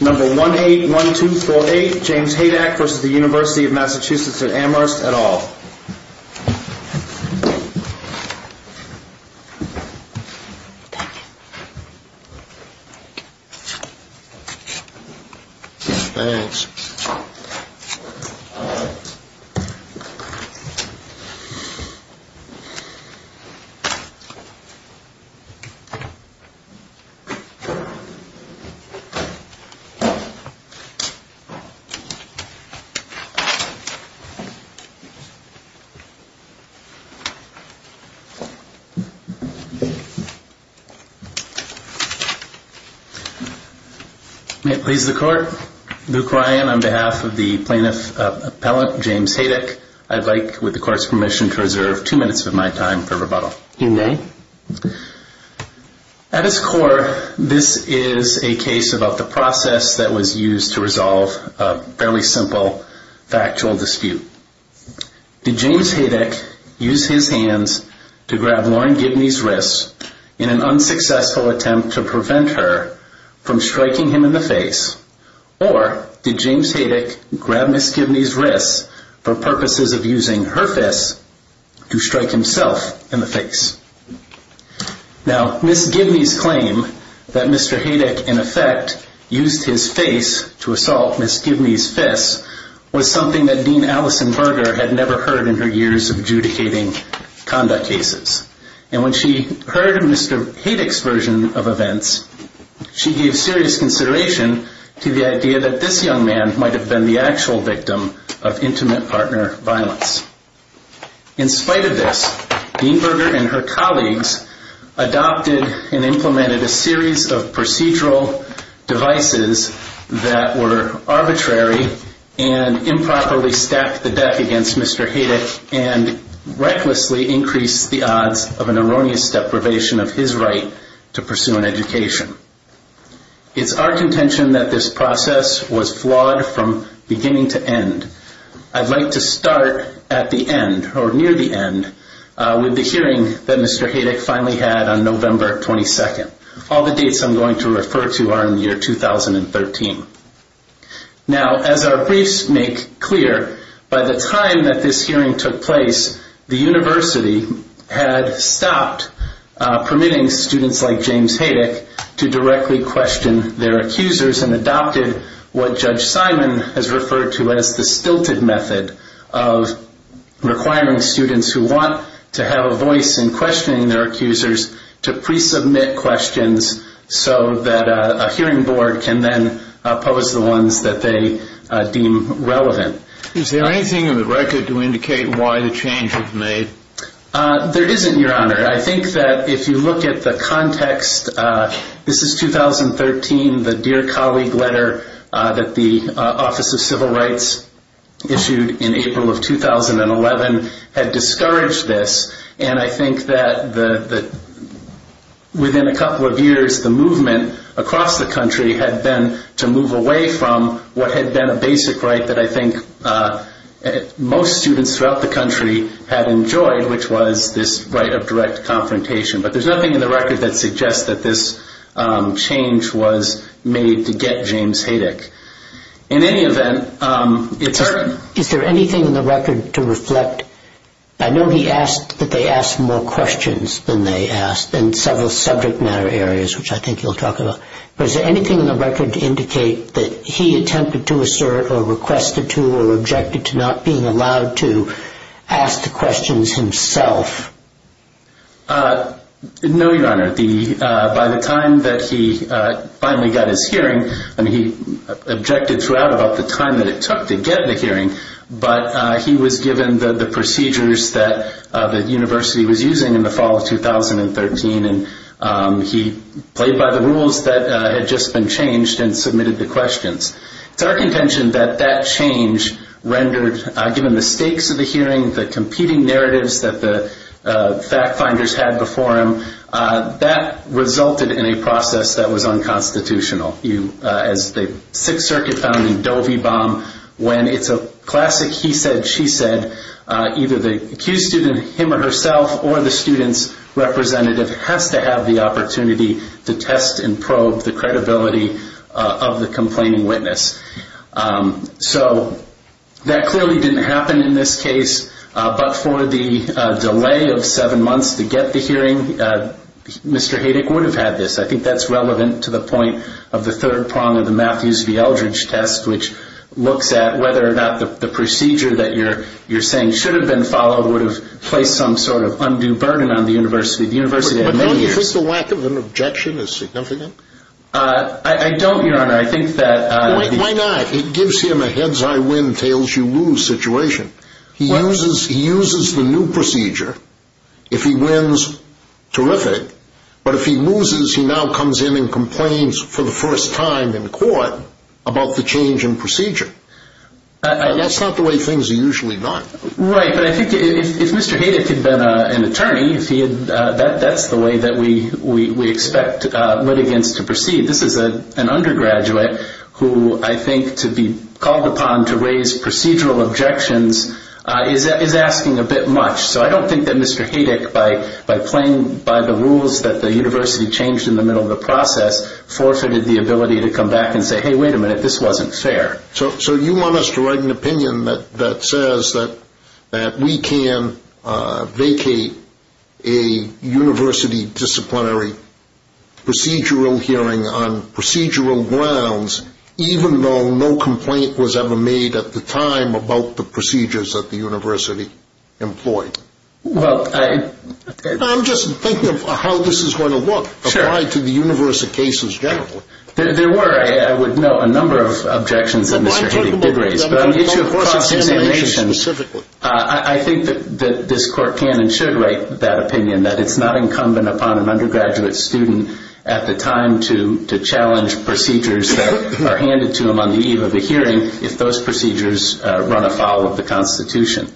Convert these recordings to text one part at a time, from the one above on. Number 181248, James Haidak v. UMass-Amherst et al. May it please the Court, Luke Ryan on behalf of the Plaintiff Appellant James Haidak, I'd like, with the Court's permission, to reserve two minutes of my time for rebuttal. You may. At its core, this is a case about the process that was used to resolve a fairly simple factual dispute. Did James Haidak use his hands to grab Lauren Gibney's wrists in an unsuccessful attempt to prevent her from striking him in the face, or did James Haidak grab Ms. Gibney's wrists for purposes of using her fists to strike himself in the face? Now Ms. Gibney's claim that Mr. Haidak, in effect, used his face to assault Ms. Gibney's fists was something that Dean Allison Berger had never heard in her years adjudicating conduct cases. And when she heard Mr. Haidak's version of events, she gave serious consideration to the idea that this young man might have been the actual victim of intimate partner violence. In spite of this, Dean Berger and her colleagues adopted and implemented a series of procedural devices that were arbitrary and improperly stacked the deck against Mr. Haidak and recklessly increased the odds of an erroneous deprivation of his right to pursue an education. It's our contention that this process was flawed from beginning to end. I'd like to start at the end, or near the end, with the hearing that Mr. Haidak finally had on November 22nd. All the dates I'm going to refer to are in the year 2013. Now as our briefs make clear, by the time that this hearing took place, the university had stopped permitting students like James Haidak to directly question their accusers and adopted what Judge Simon has referred to as the stilted method of requiring students who want to have a voice in questioning their accusers to pre-submit questions so that a hearing board can then pose the ones that they deem relevant. Is there anything in the record to indicate why the change was made? There isn't, Your Honor. I think that if you look at the context, this is 2013, the Dear Colleague letter that the Office of Civil Rights issued in April of 2011 had discouraged this, and I think that within a couple of years, the movement across the country had been to move away from what had been a basic right that I think most students throughout the country had enjoyed, which was this right of direct confrontation. But there's nothing in the record that suggests that this change was made to get James Haidak. In any event, it's a... Is there anything in the record to reflect... I know he asked that they ask more questions than they asked in several subject matter areas, which I think you'll talk about. But is there anything in the record to indicate that he attempted to assert or requested to or objected to not being allowed to ask the questions himself? No, Your Honor. By the time that he finally got his hearing, I mean, he objected throughout about the time that it took to get the hearing, but he was given the procedures that the university was using in the fall of 2013, and he played by the rules that had just been changed and submitted the questions. It's our contention that that change rendered, given the stakes of the hearing, the competing narratives that the fact-finders had before him, that resulted in a process that was unconstitutional. As the Sixth Circuit found in the Dovey bomb, when it's a classic he said, she said, either the accused student, him or herself, or the student's representative has to have the opportunity to test and probe the credibility of the complaining witness. So that clearly didn't happen in this case, but for the delay of seven months to get the hearing, Mr. Haydick would have had this. I think that's relevant to the point of the third prong of the Matthews v. Eldridge test, which looks at whether or not the procedure that you're saying should have been followed would have placed some sort of undue burden on the university. Do you think the lack of an objection is significant? I don't, Your Honor. I think that... Why not? It gives him a heads-high-win-tails-you-lose situation. He uses the new procedure. If he wins, terrific. But if he loses, he now comes in and complains for the first time in court about the change in procedure. That's not the way things are usually done. Right, but I think if Mr. Haydick had been an attorney, that's the way that we expect litigants to proceed. This is an undergraduate who I think to be called upon to raise procedural objections is asking a bit much. So I don't think that Mr. Haydick, by playing by the rules that the university changed in the middle of the process, forfeited the ability to come back and say, hey, wait a minute, this wasn't fair. So you want us to write an opinion that says that we can vacate a university disciplinary procedural hearing on procedural grounds, even though no complaint was ever made at the time about the procedures that the university employed? Well, I... I'm just thinking of how this is going to look, applied to the university cases generally. There were, I would note, a number of objections that Mr. Haydick did raise. But on the issue of cross examination, I think that this court can and should write that opinion, that it's not incumbent upon an undergraduate student at the time to challenge procedures that are handed to him on the eve of a hearing if those procedures run afoul of the Constitution.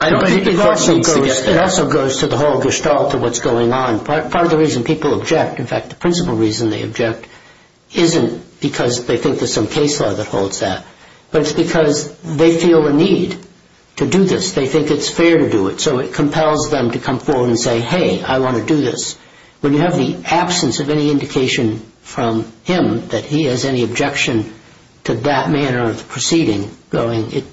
I don't think the court needs to get there. It also goes to the whole gestalt of what's going on. Part of the reason people object, in fact, the principal reason they object isn't because they think there's some case law that holds that, but it's because they feel a need to do this. They think it's fair to do it, so it compels them to come forward and say, hey, I want to do this. When you have the absence of any indication from him that he has any objection to that manner of the proceeding going, it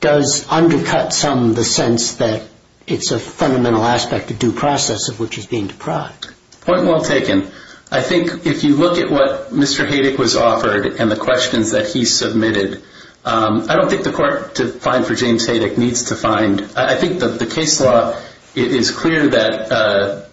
does undercut some the sense that it's a fundamental aspect of due process of which is being deprived. Point well taken. I think if you look at what Mr. Haydick was offered and the questions that he submitted, I don't think the court, to find for James Haydick, needs to find. I think that the case law, it is clear that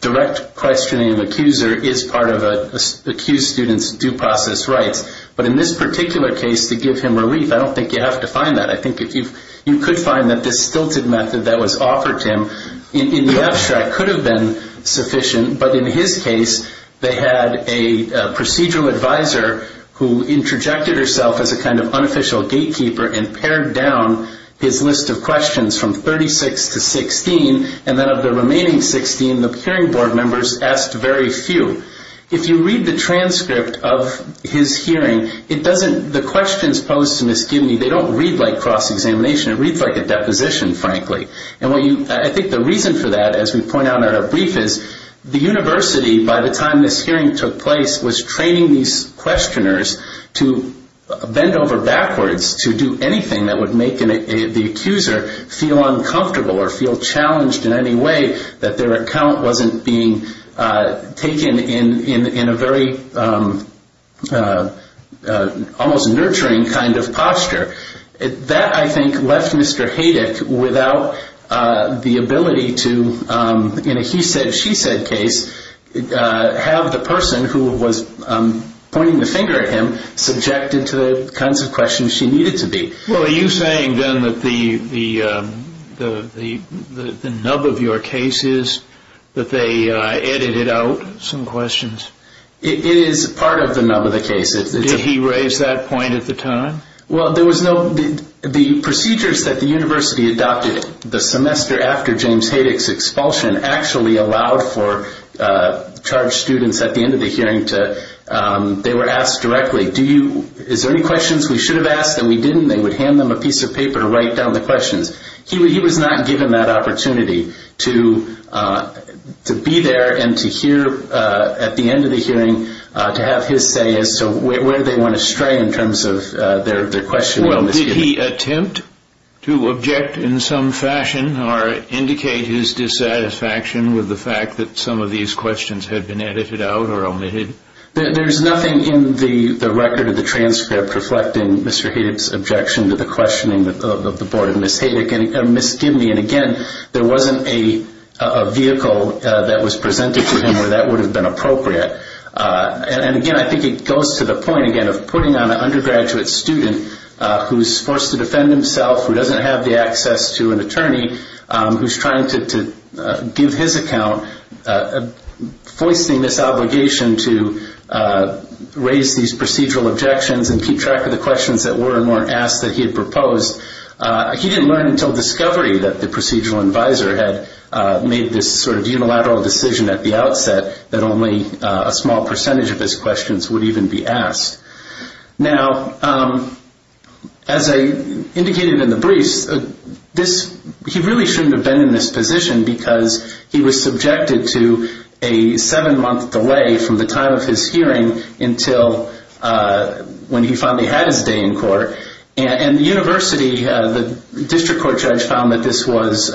direct questioning of the accuser is part of an accused student's due process rights. But in this particular case, to give him relief, I don't think you have to find that. I think you could find that this stilted method that was offered to him in the abstract could have been sufficient, but in his case, they had a procedural advisor who interjected herself as a kind of unofficial gatekeeper and pared down his list of questions from 36 to 16, and then of the remaining 16, the hearing board members asked very few. If you read the transcript of his hearing, the questions posed to misgive me, they don't read like cross-examination. It reads like a deposition, frankly. I think the reason for that, as we point out in our brief, is the university, by the time this hearing took place, was training these questioners to bend over backwards to do anything that would make the accuser feel uncomfortable or feel challenged in any way that their account wasn't being heard. That, I think, left Mr. Haydick without the ability to, in a he-said-she-said case, have the person who was pointing the finger at him subjected to the kinds of questions she needed to be. Well, are you saying, then, that the nub of your case is that they edited out some questions? It is part of the nub of the case. Did he raise that point at the time? Well, the procedures that the university adopted the semester after James Haydick's expulsion actually allowed for charged students, at the end of the hearing, they were asked directly, is there any questions we should have asked and we didn't? They would hand them a piece of paper to write down the questions. He was not given that opportunity to be there and to hear, at the end of the hearing, to have his say as to where they went astray in terms of their questioning of Ms. Gibney. Did he attempt to object in some fashion or indicate his dissatisfaction with the fact that some of these questions had been edited out or omitted? There's nothing in the record of the transfer reflecting Mr. Haydick's objection to the questioning of the Board of Ms. Gibney. And, again, there wasn't a vehicle that was presented to him where that would have been appropriate. And, again, I think it goes to the point, again, of putting on an undergraduate student who's forced to defend himself, who doesn't have the access to an attorney, who's trying to give his account, foisting this obligation to raise these procedural objections and keep track of the questions that were and weren't asked that he had proposed. He didn't learn until discovery that the procedural advisor had made this sort of unilateral decision at the outset that only a small percentage of his questions would even be asked. Now, as I indicated in the briefs, this, he really shouldn't have been in this position because he was subjected to a seven-month delay from the time of his hearing until when he finally had his day in court. And the university, the district court judge found that this was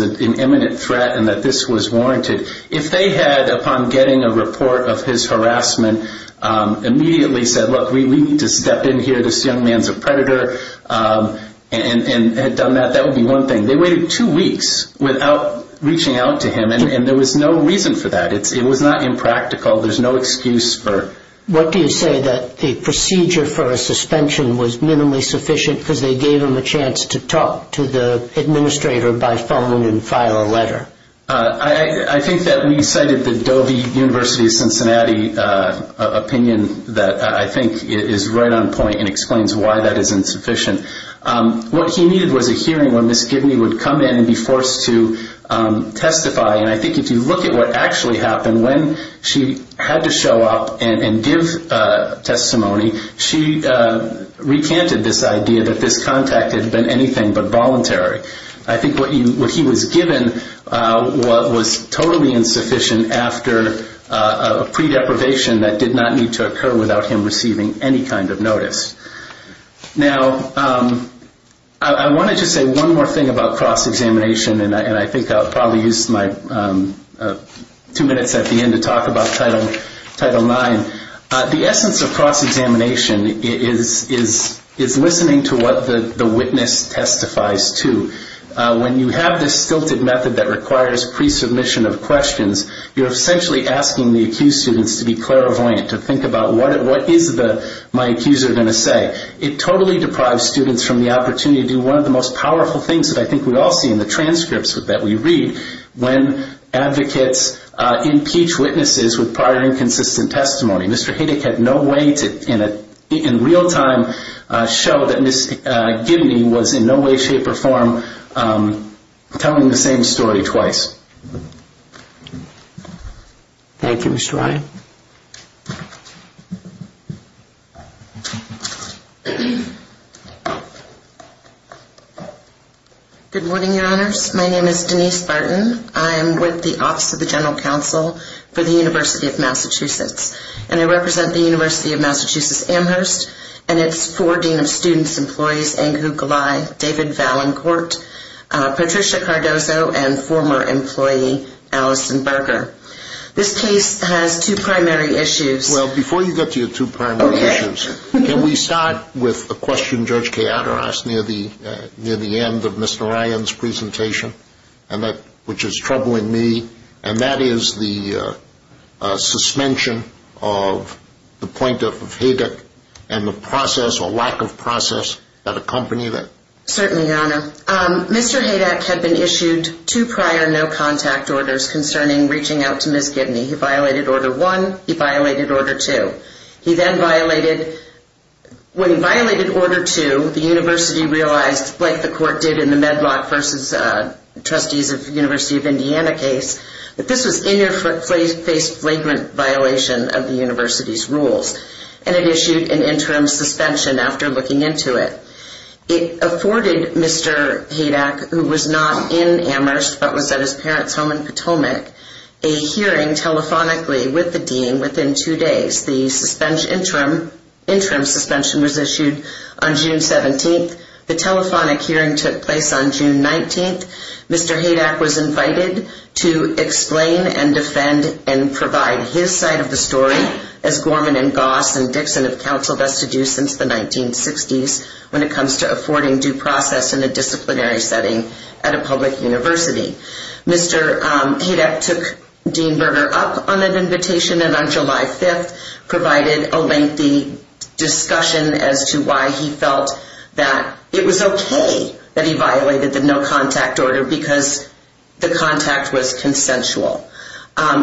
an imminent threat and that this was warranted. If they had, upon getting a report of his harassment, immediately said, look, we need to step in here, this young man's a predator, and had done that, that would be one thing. They waited two weeks without reaching out to him, and there was no reason for that. It was not impractical. There's no excuse for it. What do you say that the procedure for a suspension was minimally sufficient because they gave him a chance to talk to the administrator by phone and file a letter? I think that we cited the Dovey University of Cincinnati opinion that I think is right on point and explains why that is insufficient. What he needed was a hearing where Ms. Gibney would come in and be forced to testify. And I think if you look at what actually happened when she had to show up and give testimony, she recanted this idea that this contact had been anything but voluntary. I think what he was given was totally insufficient after a pre-deprivation that did not need to occur without him receiving any kind of notice. Now I wanted to say one more thing about cross-examination, and I think I'll probably use my two minutes at the end to talk about Title IX. The essence of cross-examination is listening to what the witness testifies to. When you have this stilted method that requires pre-submission of questions, you're essentially asking the accused students to be clairvoyant, to think about what is my accuser going to say. It totally deprives students from the opportunity to do one of the most powerful things that I think we all see in the transcripts that we read when advocates impeach witnesses with prior inconsistent testimony. Mr. Hiddick had no way to, in real time, show that Ms. Gibney was in no way, shape, or form telling the same story twice. Thank you, Mr. Ryan. Good morning, Your Honors. My name is Denise Barton. I'm with the Office of the General Counsel for the University of Massachusetts, and I represent the University of Massachusetts Amherst and its four Dean of Students employees, Angu Gulai, David Valancourt, Patricia Cardozo, and former employee, Allison Berger. This case has two primary issues. Well, before you get to your two primary issues, can we start with a question Judge Kaye uttered to us near the end of Mr. Ryan's presentation, which is troubling me, and that is the suspension of the point of Hiddick and the process, or lack of process, that accompanied it. Certainly, Your Honor. Mr. Hiddick had been issued two prior no-contact orders concerning reaching out to Ms. Gibney. He violated Order 1, he violated Order 2. He then violated, when he violated Order 2, the University realized, like the court did in the Medlock v. Trustees of the University of Indiana case, that this was in your face flagrant violation of the University's rules, and it issued an interim suspension after looking into it. It afforded Mr. Hiddick, who was not in Amherst, but was at his parents' home in Potomac, a hearing telephonically with the dean within two days. The interim suspension was issued on June 17th. The telephonic hearing took place on June 19th. Mr. Hiddick was invited to explain and defend and provide his side of the story, as Gorman and Goss and Dixon have counseled us to do since the 1960s, when it comes to affording due process in a disciplinary setting at a public university. Mr. Hiddick took Dean Berger up on an invitation and on July 5th provided a lengthy discussion as to why he felt that it was okay that he violated the no-contact order because the contact was consensual.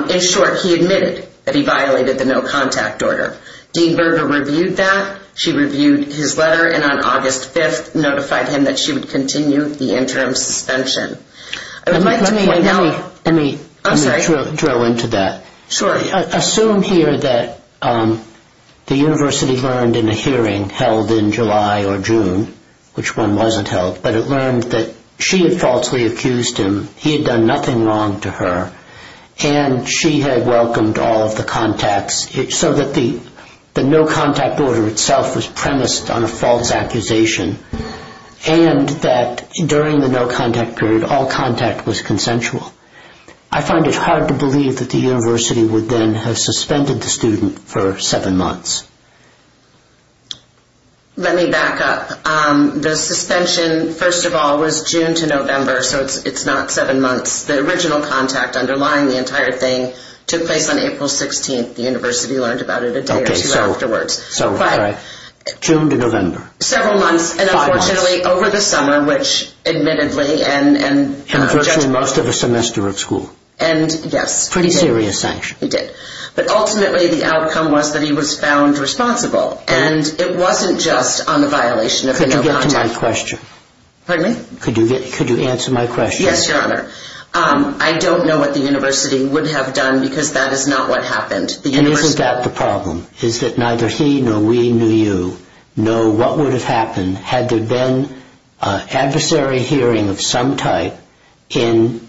In short, he admitted that he violated the no-contact order. Dean Berger reviewed that, she reviewed his letter, and on August 5th that she would continue the interim suspension. Assume here that the university learned in a hearing held in July or June, which one wasn't held, but it learned that she had falsely accused him, he had done nothing wrong to her, and she had welcomed all of the contacts, so that the no-contact order itself was premised on a false accusation, and that during the no-contact period all contact was consensual. I find it hard to believe that the university would then have suspended the student for seven months. Let me back up. The suspension, first of all, was June to November, so it's not seven months. The original contact underlying the entire thing took place on April 16th. The university learned about it a day or two afterwards. June to November. Several months, and unfortunately over the summer, which admittedly... In virtually most of the semester of school. Yes. Pretty serious sanction. He did. But ultimately the outcome was that he was found responsible, and it wasn't just on the violation of the no-contact... Could you get to my question? Pardon me? Could you answer my question? Yes, Your Honor. I don't know what the university would have done because that is not what happened. And isn't that the problem? Is that neither he nor we knew you know what would have happened had there been an adversary hearing of some type in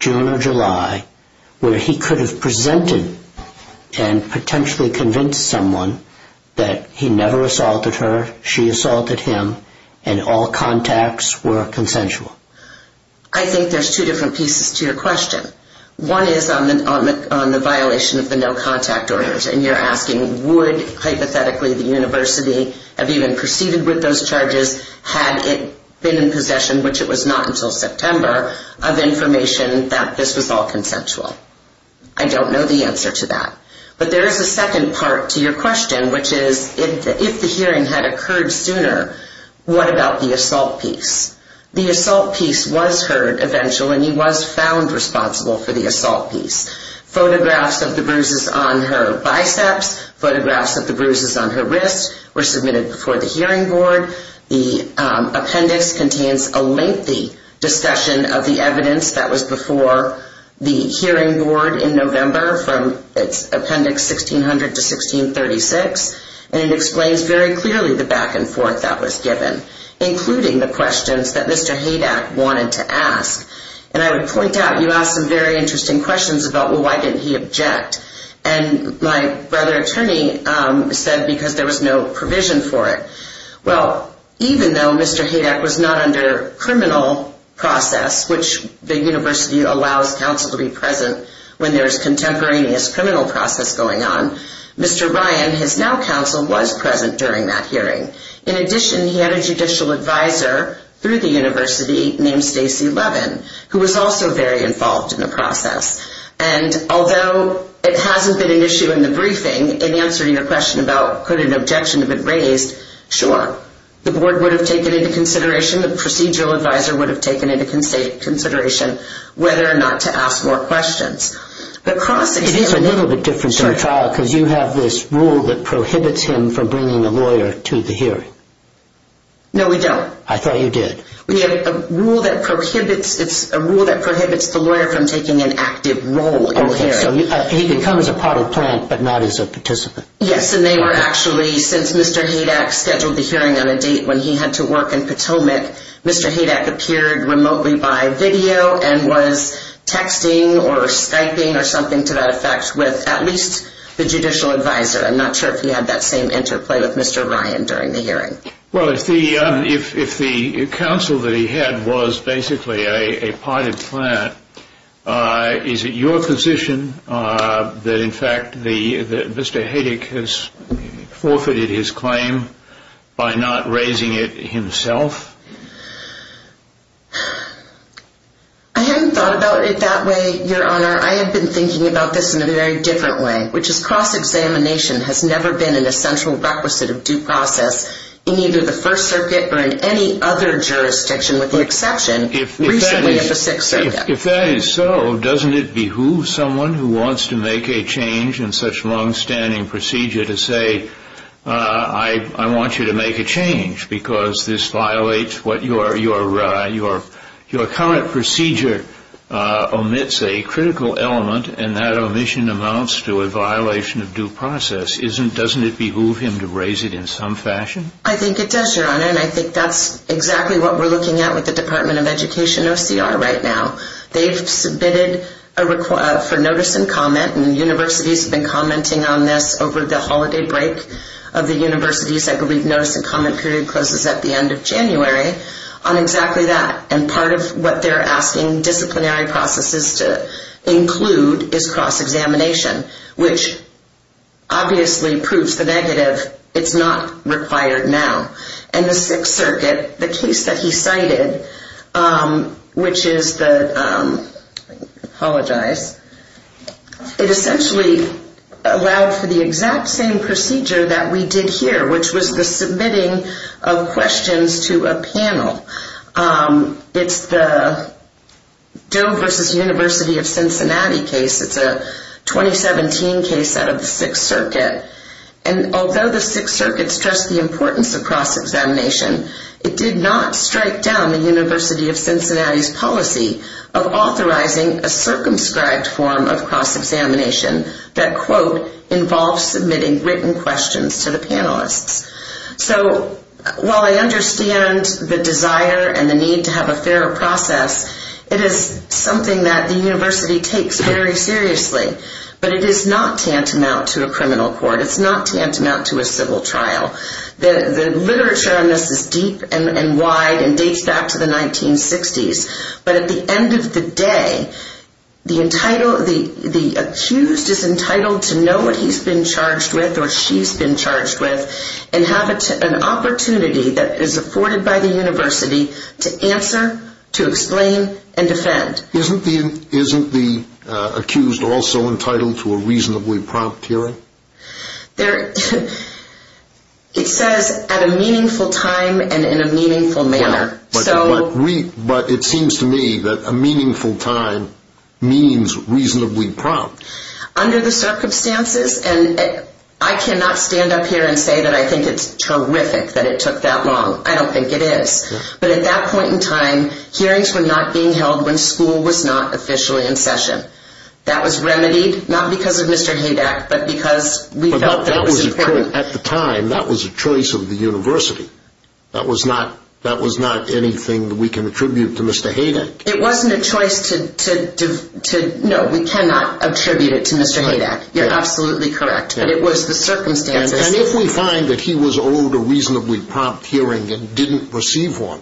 June or July where he could have presented and potentially convinced someone that he never assaulted her, she assaulted him, and all contacts were consensual? I think there's two different pieces to your contact orders, and you're asking would hypothetically the university have even proceeded with those charges had it been in possession, which it was not until September, of information that this was all consensual. I don't know the answer to that. But there is a second part to your question, which is if the hearing had occurred sooner, what about the assault piece? The assault piece was heard eventually, and he was found responsible for the assault piece. Photographs of the bruises on her biceps, photographs of the bruises on her wrists were submitted before the hearing board. The appendix contains a lengthy discussion of the evidence that was before the hearing board in November from its appendix 1600 to 1636, and it explains very clearly the back and forth that was given, including the questions that Mr. Haydack wanted to ask. And I would point out, you asked some very interesting questions about why didn't he object, and my brother attorney said because there was no provision for it. Well, even though Mr. Haydack was not under criminal process, which the university allows counsel to be present when there's contemporaneous criminal process going on, Mr. Ryan, his now counsel, was present during that hearing. In addition, he had a judicial advisor through the university named Stacey Levin, who was also very involved in the process. And although it hasn't been an issue in the briefing in answering your question about could an objection have been raised, sure, the board would have taken into consideration, the procedural advisor would have taken into consideration whether or not to ask more questions. It is a little bit different than a trial because you have this rule that prohibits him from bringing a lawyer to the hearing. No, we don't. I thought you did. We have a rule that prohibits, it's a rule that prohibits the lawyer from taking an active role in the hearing. Okay, so he can come as a part of the plan, but not as a participant. Yes, and they were actually, since Mr. Haydack scheduled the hearing on a date when he had to work in Potomac, Mr. Haydack appeared remotely by video and was texting or Skyping or something to that effect with at least the judicial advisor. I'm not sure if he had that same interplay with Mr. Ryan during the hearing. Well, if the counsel that he had was basically a part of the plan, is it your position that, in fact, Mr. Haydack has forfeited his claim by not raising it himself? I haven't thought about it that way, Your Honor. I have been thinking about this in a very different way, which is cross-examination has never been an essential requisite of due process in either the First Circuit or in any other jurisdiction, with the exception recently of the Sixth Circuit. If that is so, doesn't it behoove someone who wants to make a change in such long-standing procedure to say, I want you to make a change because this violates what your current procedure omits, a critical element, and that omission amounts to a violation of due process. Doesn't it behoove him to raise it in some fashion? I think it does, Your Honor, and I think that's exactly what we're looking at with the Department of Education OCR right now. They've submitted for notice and comment, and universities have been commenting on this over the holiday break of the universities. I believe notice and comment period closes at the end of January on exactly that. And part of what they're asking disciplinary processes to include is cross-examination, which obviously proves the negative, it's not required now. In the Sixth Circuit, the case that he cited, which is the – I apologize – it essentially allowed for the exact same procedure that we did here, which was the submitting of questions to a panel. It's the Doe v. University of Cincinnati case. It's a 2017 case out of the Sixth Circuit. And although the Sixth Circuit stressed the importance of cross-examination, it did not strike down the University of Cincinnati's policy of authorizing a circumscribed form of cross-examination that, quote, involves submitting written questions to the panelists. So while I understand the desire and the need to have a fairer process, it is something that the university takes very seriously. But it is not tantamount to a criminal court. It's not tantamount to a civil trial. The literature on this is deep and wide and dates back to the 1960s. But at the end of the day, the accused is entitled to know what he's been charged with or she's been charged with. And have an opportunity that is afforded by the university to answer, to explain, and defend. Isn't the accused also entitled to a reasonably prompt hearing? It says, at a meaningful time and in a meaningful manner. But it seems to me that a meaningful time means reasonably prompt. Under the circumstances, and I cannot stand up here and say that I think it's terrific that it took that long. I don't think it is. But at that point in time, hearings were not being held when school was not officially in session. That was remedied, not because of Mr. Haydack, but because we felt that was important. At the time, that was a choice of the university. That was not anything that we can attribute to Mr. Haydack. It wasn't a choice to, no, we cannot attribute it to Mr. Haydack. You're absolutely correct. But it was the circumstances. And if we find that he was owed a reasonably prompt hearing and didn't receive one,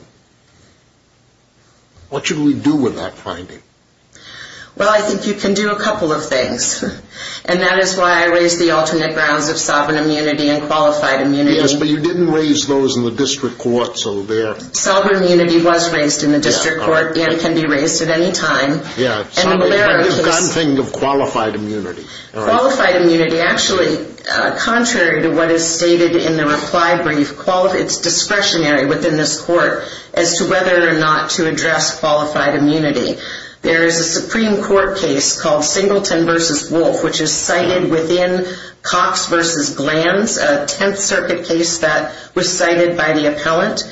what should we do with that finding? Well, I think you can do a couple of things. And that is why I raised the alternate grounds of sovereign immunity and qualified immunity. Yes, but you didn't raise those in the district court. Sovereign immunity was raised in the district court and can be raised at any time. Yeah, but you've got to think of qualified immunity. Qualified immunity, actually, contrary to what is stated in the reply brief, it's discretionary within this court as to whether or not to address qualified immunity. There is a Supreme Court case called Singleton v. Wolf, which is cited within Cox v. Glantz, a Tenth Circuit case that was cited by the appellant.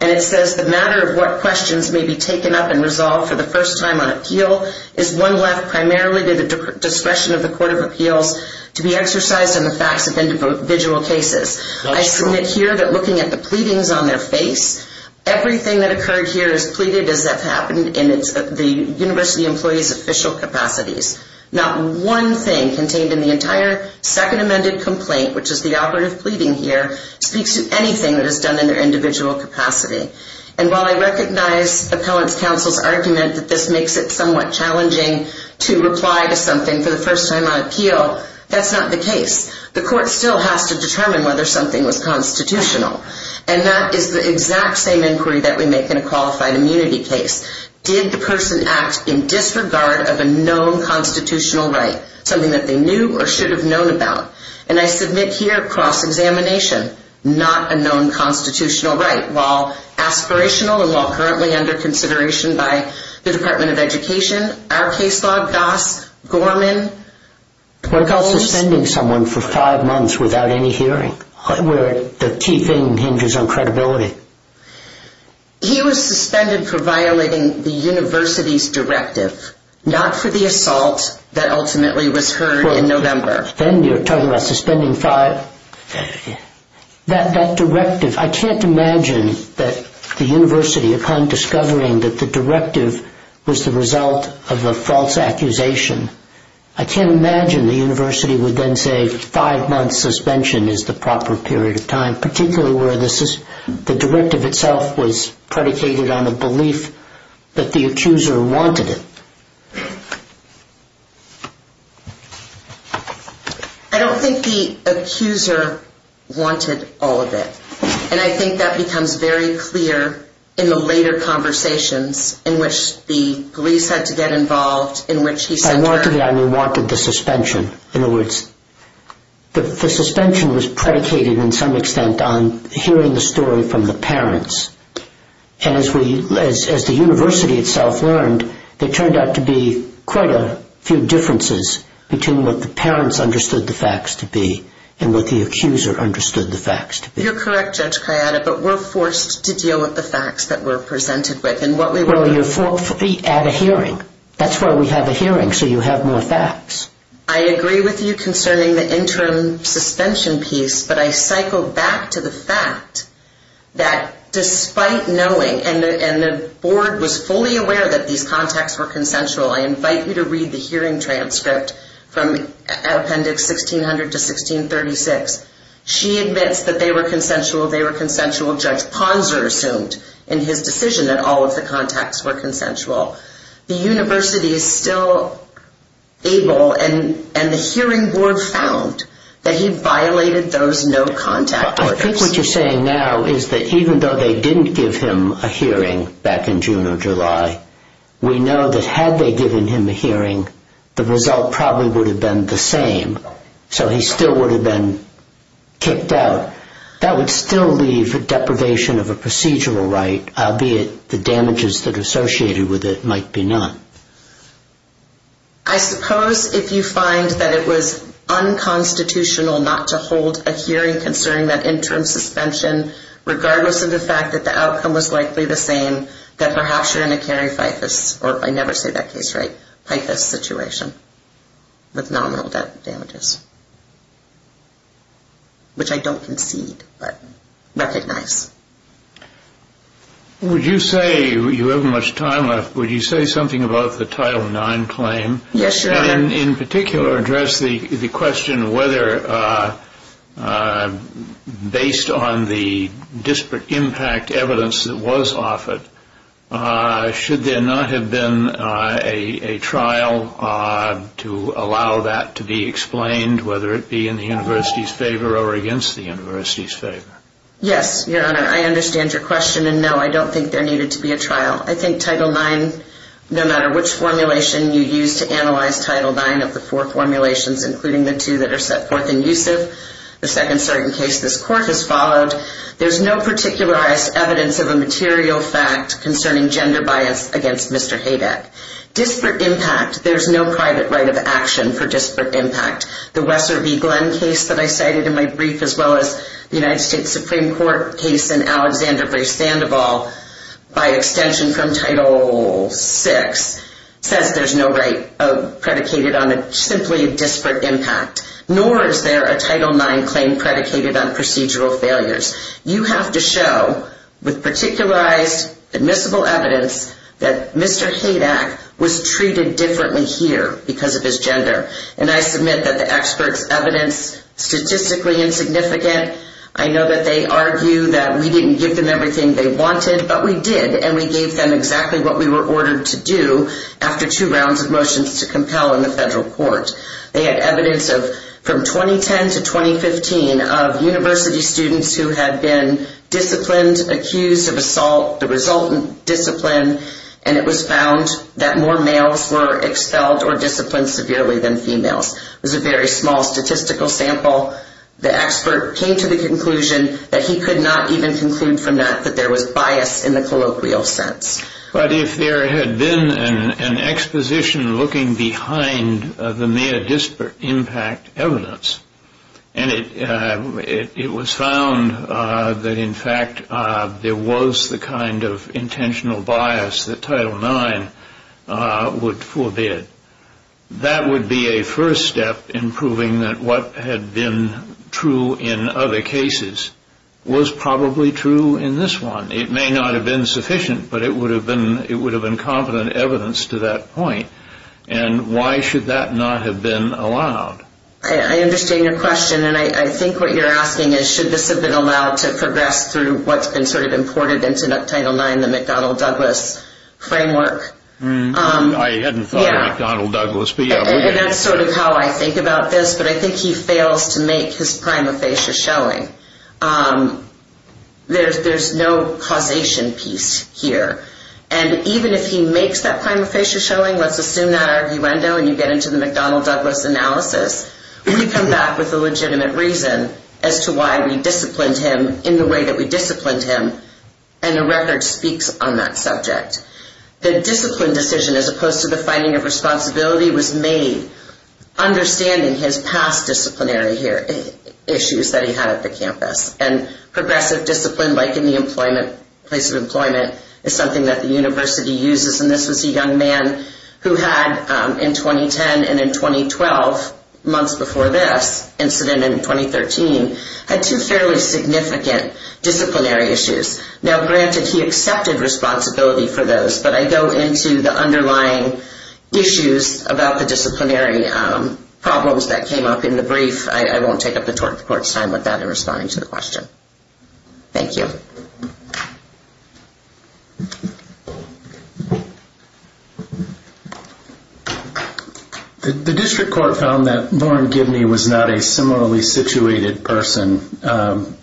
And it says the matter of what questions may be taken up and resolved for the first time on appeal is one left primarily to the discretion of the court of appeals to be exercised on the facts of individual cases. I submit here that looking at the pleadings on their face, everything that occurred here is pleaded as if happened in the university employee's official capacities. Not one thing contained in the entire second amended complaint, which is the operative pleading here, speaks to anything that is done in their individual capacity. And while I recognize the appellant's counsel's argument that this makes it somewhat challenging to reply to something for the first time on appeal, that's not the case. The court still has to determine whether something was constitutional. And that is the exact same inquiry that we make in a qualified immunity case. Did the person act in disregard of a known constitutional right, something that they knew or should have known about? And I submit here, cross-examination, not a known constitutional right. While aspirational and while currently under consideration by the Department of Education, our case law, Goss, Gorman. What about suspending someone for five months without any hearing, where the key thing hinges on credibility? He was suspended for violating the university's directive, not for the assault that ultimately was heard in November. Then you're talking about suspending five. That directive, I can't imagine that the university, upon discovering that the directive was the result of a false accusation, I can't imagine the university would then say five months suspension is the proper period of time, particularly where the directive itself was predicated on the belief that the accuser wanted it. I don't think the accuser wanted all of it. And I think that becomes very clear in the later conversations in which the police had to get involved, in which he said... I wanted the suspension. In other words, the suspension was predicated in some extent on hearing the story from the parents. And as the university itself learned, there turned out to be quite a few differences between what the parents understood the facts to be and what the accuser understood the facts to be. You're correct, Judge Kayada, but we're forced to deal with the facts that we're presented with. Well, you're forcefully at a hearing. That's why we have a hearing, so you have more facts. I agree with you concerning the interim suspension piece, but I cycle back to the fact that despite knowing, and the board was fully aware that these contacts were consensual, I invite you to read the hearing transcript from Appendix 1600 to 1636. She admits that they were consensual. They were consensual. Judge Ponzer assumed in his decision that all of the contacts were consensual. The university is still able, and the hearing board found, that he violated those no-contact orders. I think what you're saying now is that even though they didn't give him a hearing back in June or July, we know that had they given him a hearing, the result probably would have been the same. So he still would have been kicked out. That would still leave a deprivation of a procedural right, albeit the damages that are associated with it might be none. I suppose if you find that it was unconstitutional not to hold a hearing concerning that interim suspension, regardless of the fact that the outcome was likely the same, that perhaps you're in a carry FIFAS, or if I never say that case right, FIFAS situation with nominal damages, which I don't concede but recognize. Would you say, you haven't much time left, would you say something about the Title IX claim? Yes, Your Honor. In particular, address the question whether, based on the disparate impact evidence that was offered, should there not have been a trial to allow that to be explained, whether it be in the university's favor or against the university's favor? Yes, Your Honor, I understand your question, and no, I don't think there needed to be a trial. I think Title IX, no matter which formulation you use to analyze Title IX of the four formulations, including the two that are set forth in USIF, the second certain case this Court has followed, there's no particularized evidence of a material fact concerning gender bias against Mr. Haydeck. Disparate impact, there's no private right of action for disparate impact. The Wesser v. Glenn case that I cited in my brief, as well as the United States Supreme Court case in Alexander v. Sandoval, by extension from Title VI, says there's no right predicated on simply disparate impact, nor is there a Title IX claim predicated on procedural failures. You have to show, with particularized admissible evidence, that Mr. Haydeck was treated differently here because of his gender, and I submit that the experts' evidence, statistically insignificant. I know that they argue that we didn't give them everything they wanted, but we did, and we gave them exactly what we were ordered to do after two rounds of motions to compel in the federal court. They had evidence from 2010 to 2015 of university students who had been disciplined, accused of assault, the resultant discipline, and it was found that more males were expelled or disciplined severely than females. It was a very small statistical sample. The expert came to the conclusion that he could not even conclude from that that there was bias in the colloquial sense. But if there had been an exposition looking behind the mere disparate impact evidence, and it was found that, in fact, there was the kind of intentional bias that Title IX would forbid, that would be a first step in proving that what had been true in other cases was probably true in this one. It may not have been sufficient, but it would have been competent evidence to that point, and why should that not have been allowed? I understand your question, and I think what you're asking is, should this have been allowed to progress through what's been sort of imported into Title IX, the McDonnell-Douglas framework? I hadn't thought of McDonnell-Douglas. That's sort of how I think about this, but I think he fails to make his prima facie showing. There's no causation piece here, and even if he makes that prima facie showing, let's assume that arguendo and you get into the McDonnell-Douglas analysis, we come back with a legitimate reason as to why we disciplined him in the way that we disciplined him, and the record speaks on that subject. The discipline decision, as opposed to the finding of responsibility, was made understanding his past disciplinary issues that he had at the campus, and progressive discipline, like in the place of employment, is something that the university uses, and this was a young man who had, in 2010 and in 2012, months before this incident in 2013, had two fairly significant disciplinary issues. Now, granted, he accepted responsibility for those, but I go into the underlying issues about the disciplinary problems that came up in the brief. I won't take up the Court's time with that in responding to the question. Thank you. The district court found that Warren Gibney was not a similarly situated person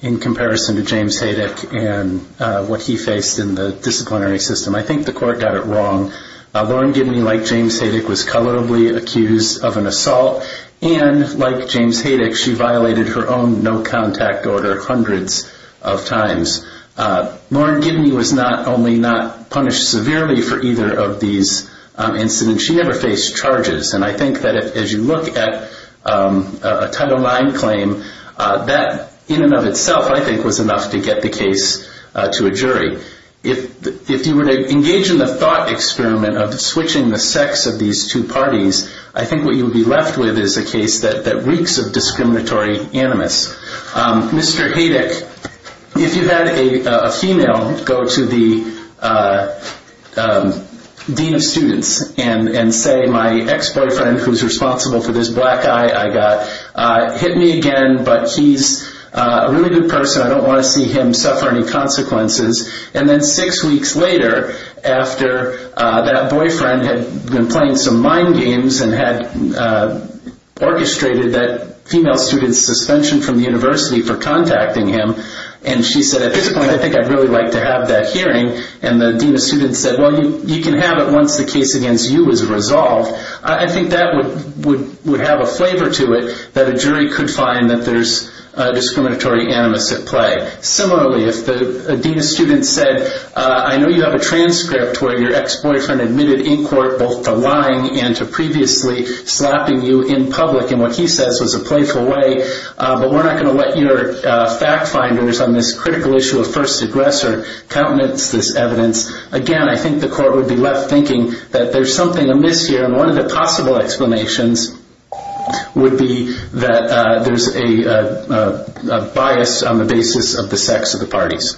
in comparison to James Haydick and what he faced in the disciplinary system. I think the Court got it wrong. Warren Gibney, like James Haydick, was colorably accused of an assault, and like James Haydick, she violated her own no-contact order hundreds of times. Warren Gibney was not only not punished severely for either of these incidents, she never faced charges, and I think that as you look at a Title IX claim, that in and of itself, I think, was enough to get the case to a jury. If you were to engage in the thought experiment of switching the sex of these two parties, I think what you would be left with is a case that reeks of discriminatory animus. Mr. Haydick, if you had a female go to the dean of students and say, my ex-boyfriend who's responsible for this black guy I got hit me again, but he's a really good person, I don't want to see him suffer any consequences, and then six weeks later, after that boyfriend had been playing some mind games and had orchestrated that female student's suspension from the university for contacting him, and she said, at this point, I think I'd really like to have that hearing, and the dean of students said, well, you can have it once the case against you is resolved, I think that would have a flavor to it, that a jury could find that there's discriminatory animus at play. Similarly, if the dean of students said, I know you have a transcript where your ex-boyfriend admitted in court both to lying and to previously slapping you in public in what he says was a playful way, but we're not going to let your fact finders on this critical issue of first aggressor countenance this evidence, again, I think the court would be left thinking that there's something amiss here, and one of the possible explanations would be that there's a bias on the basis of the sex of the parties. Thank you.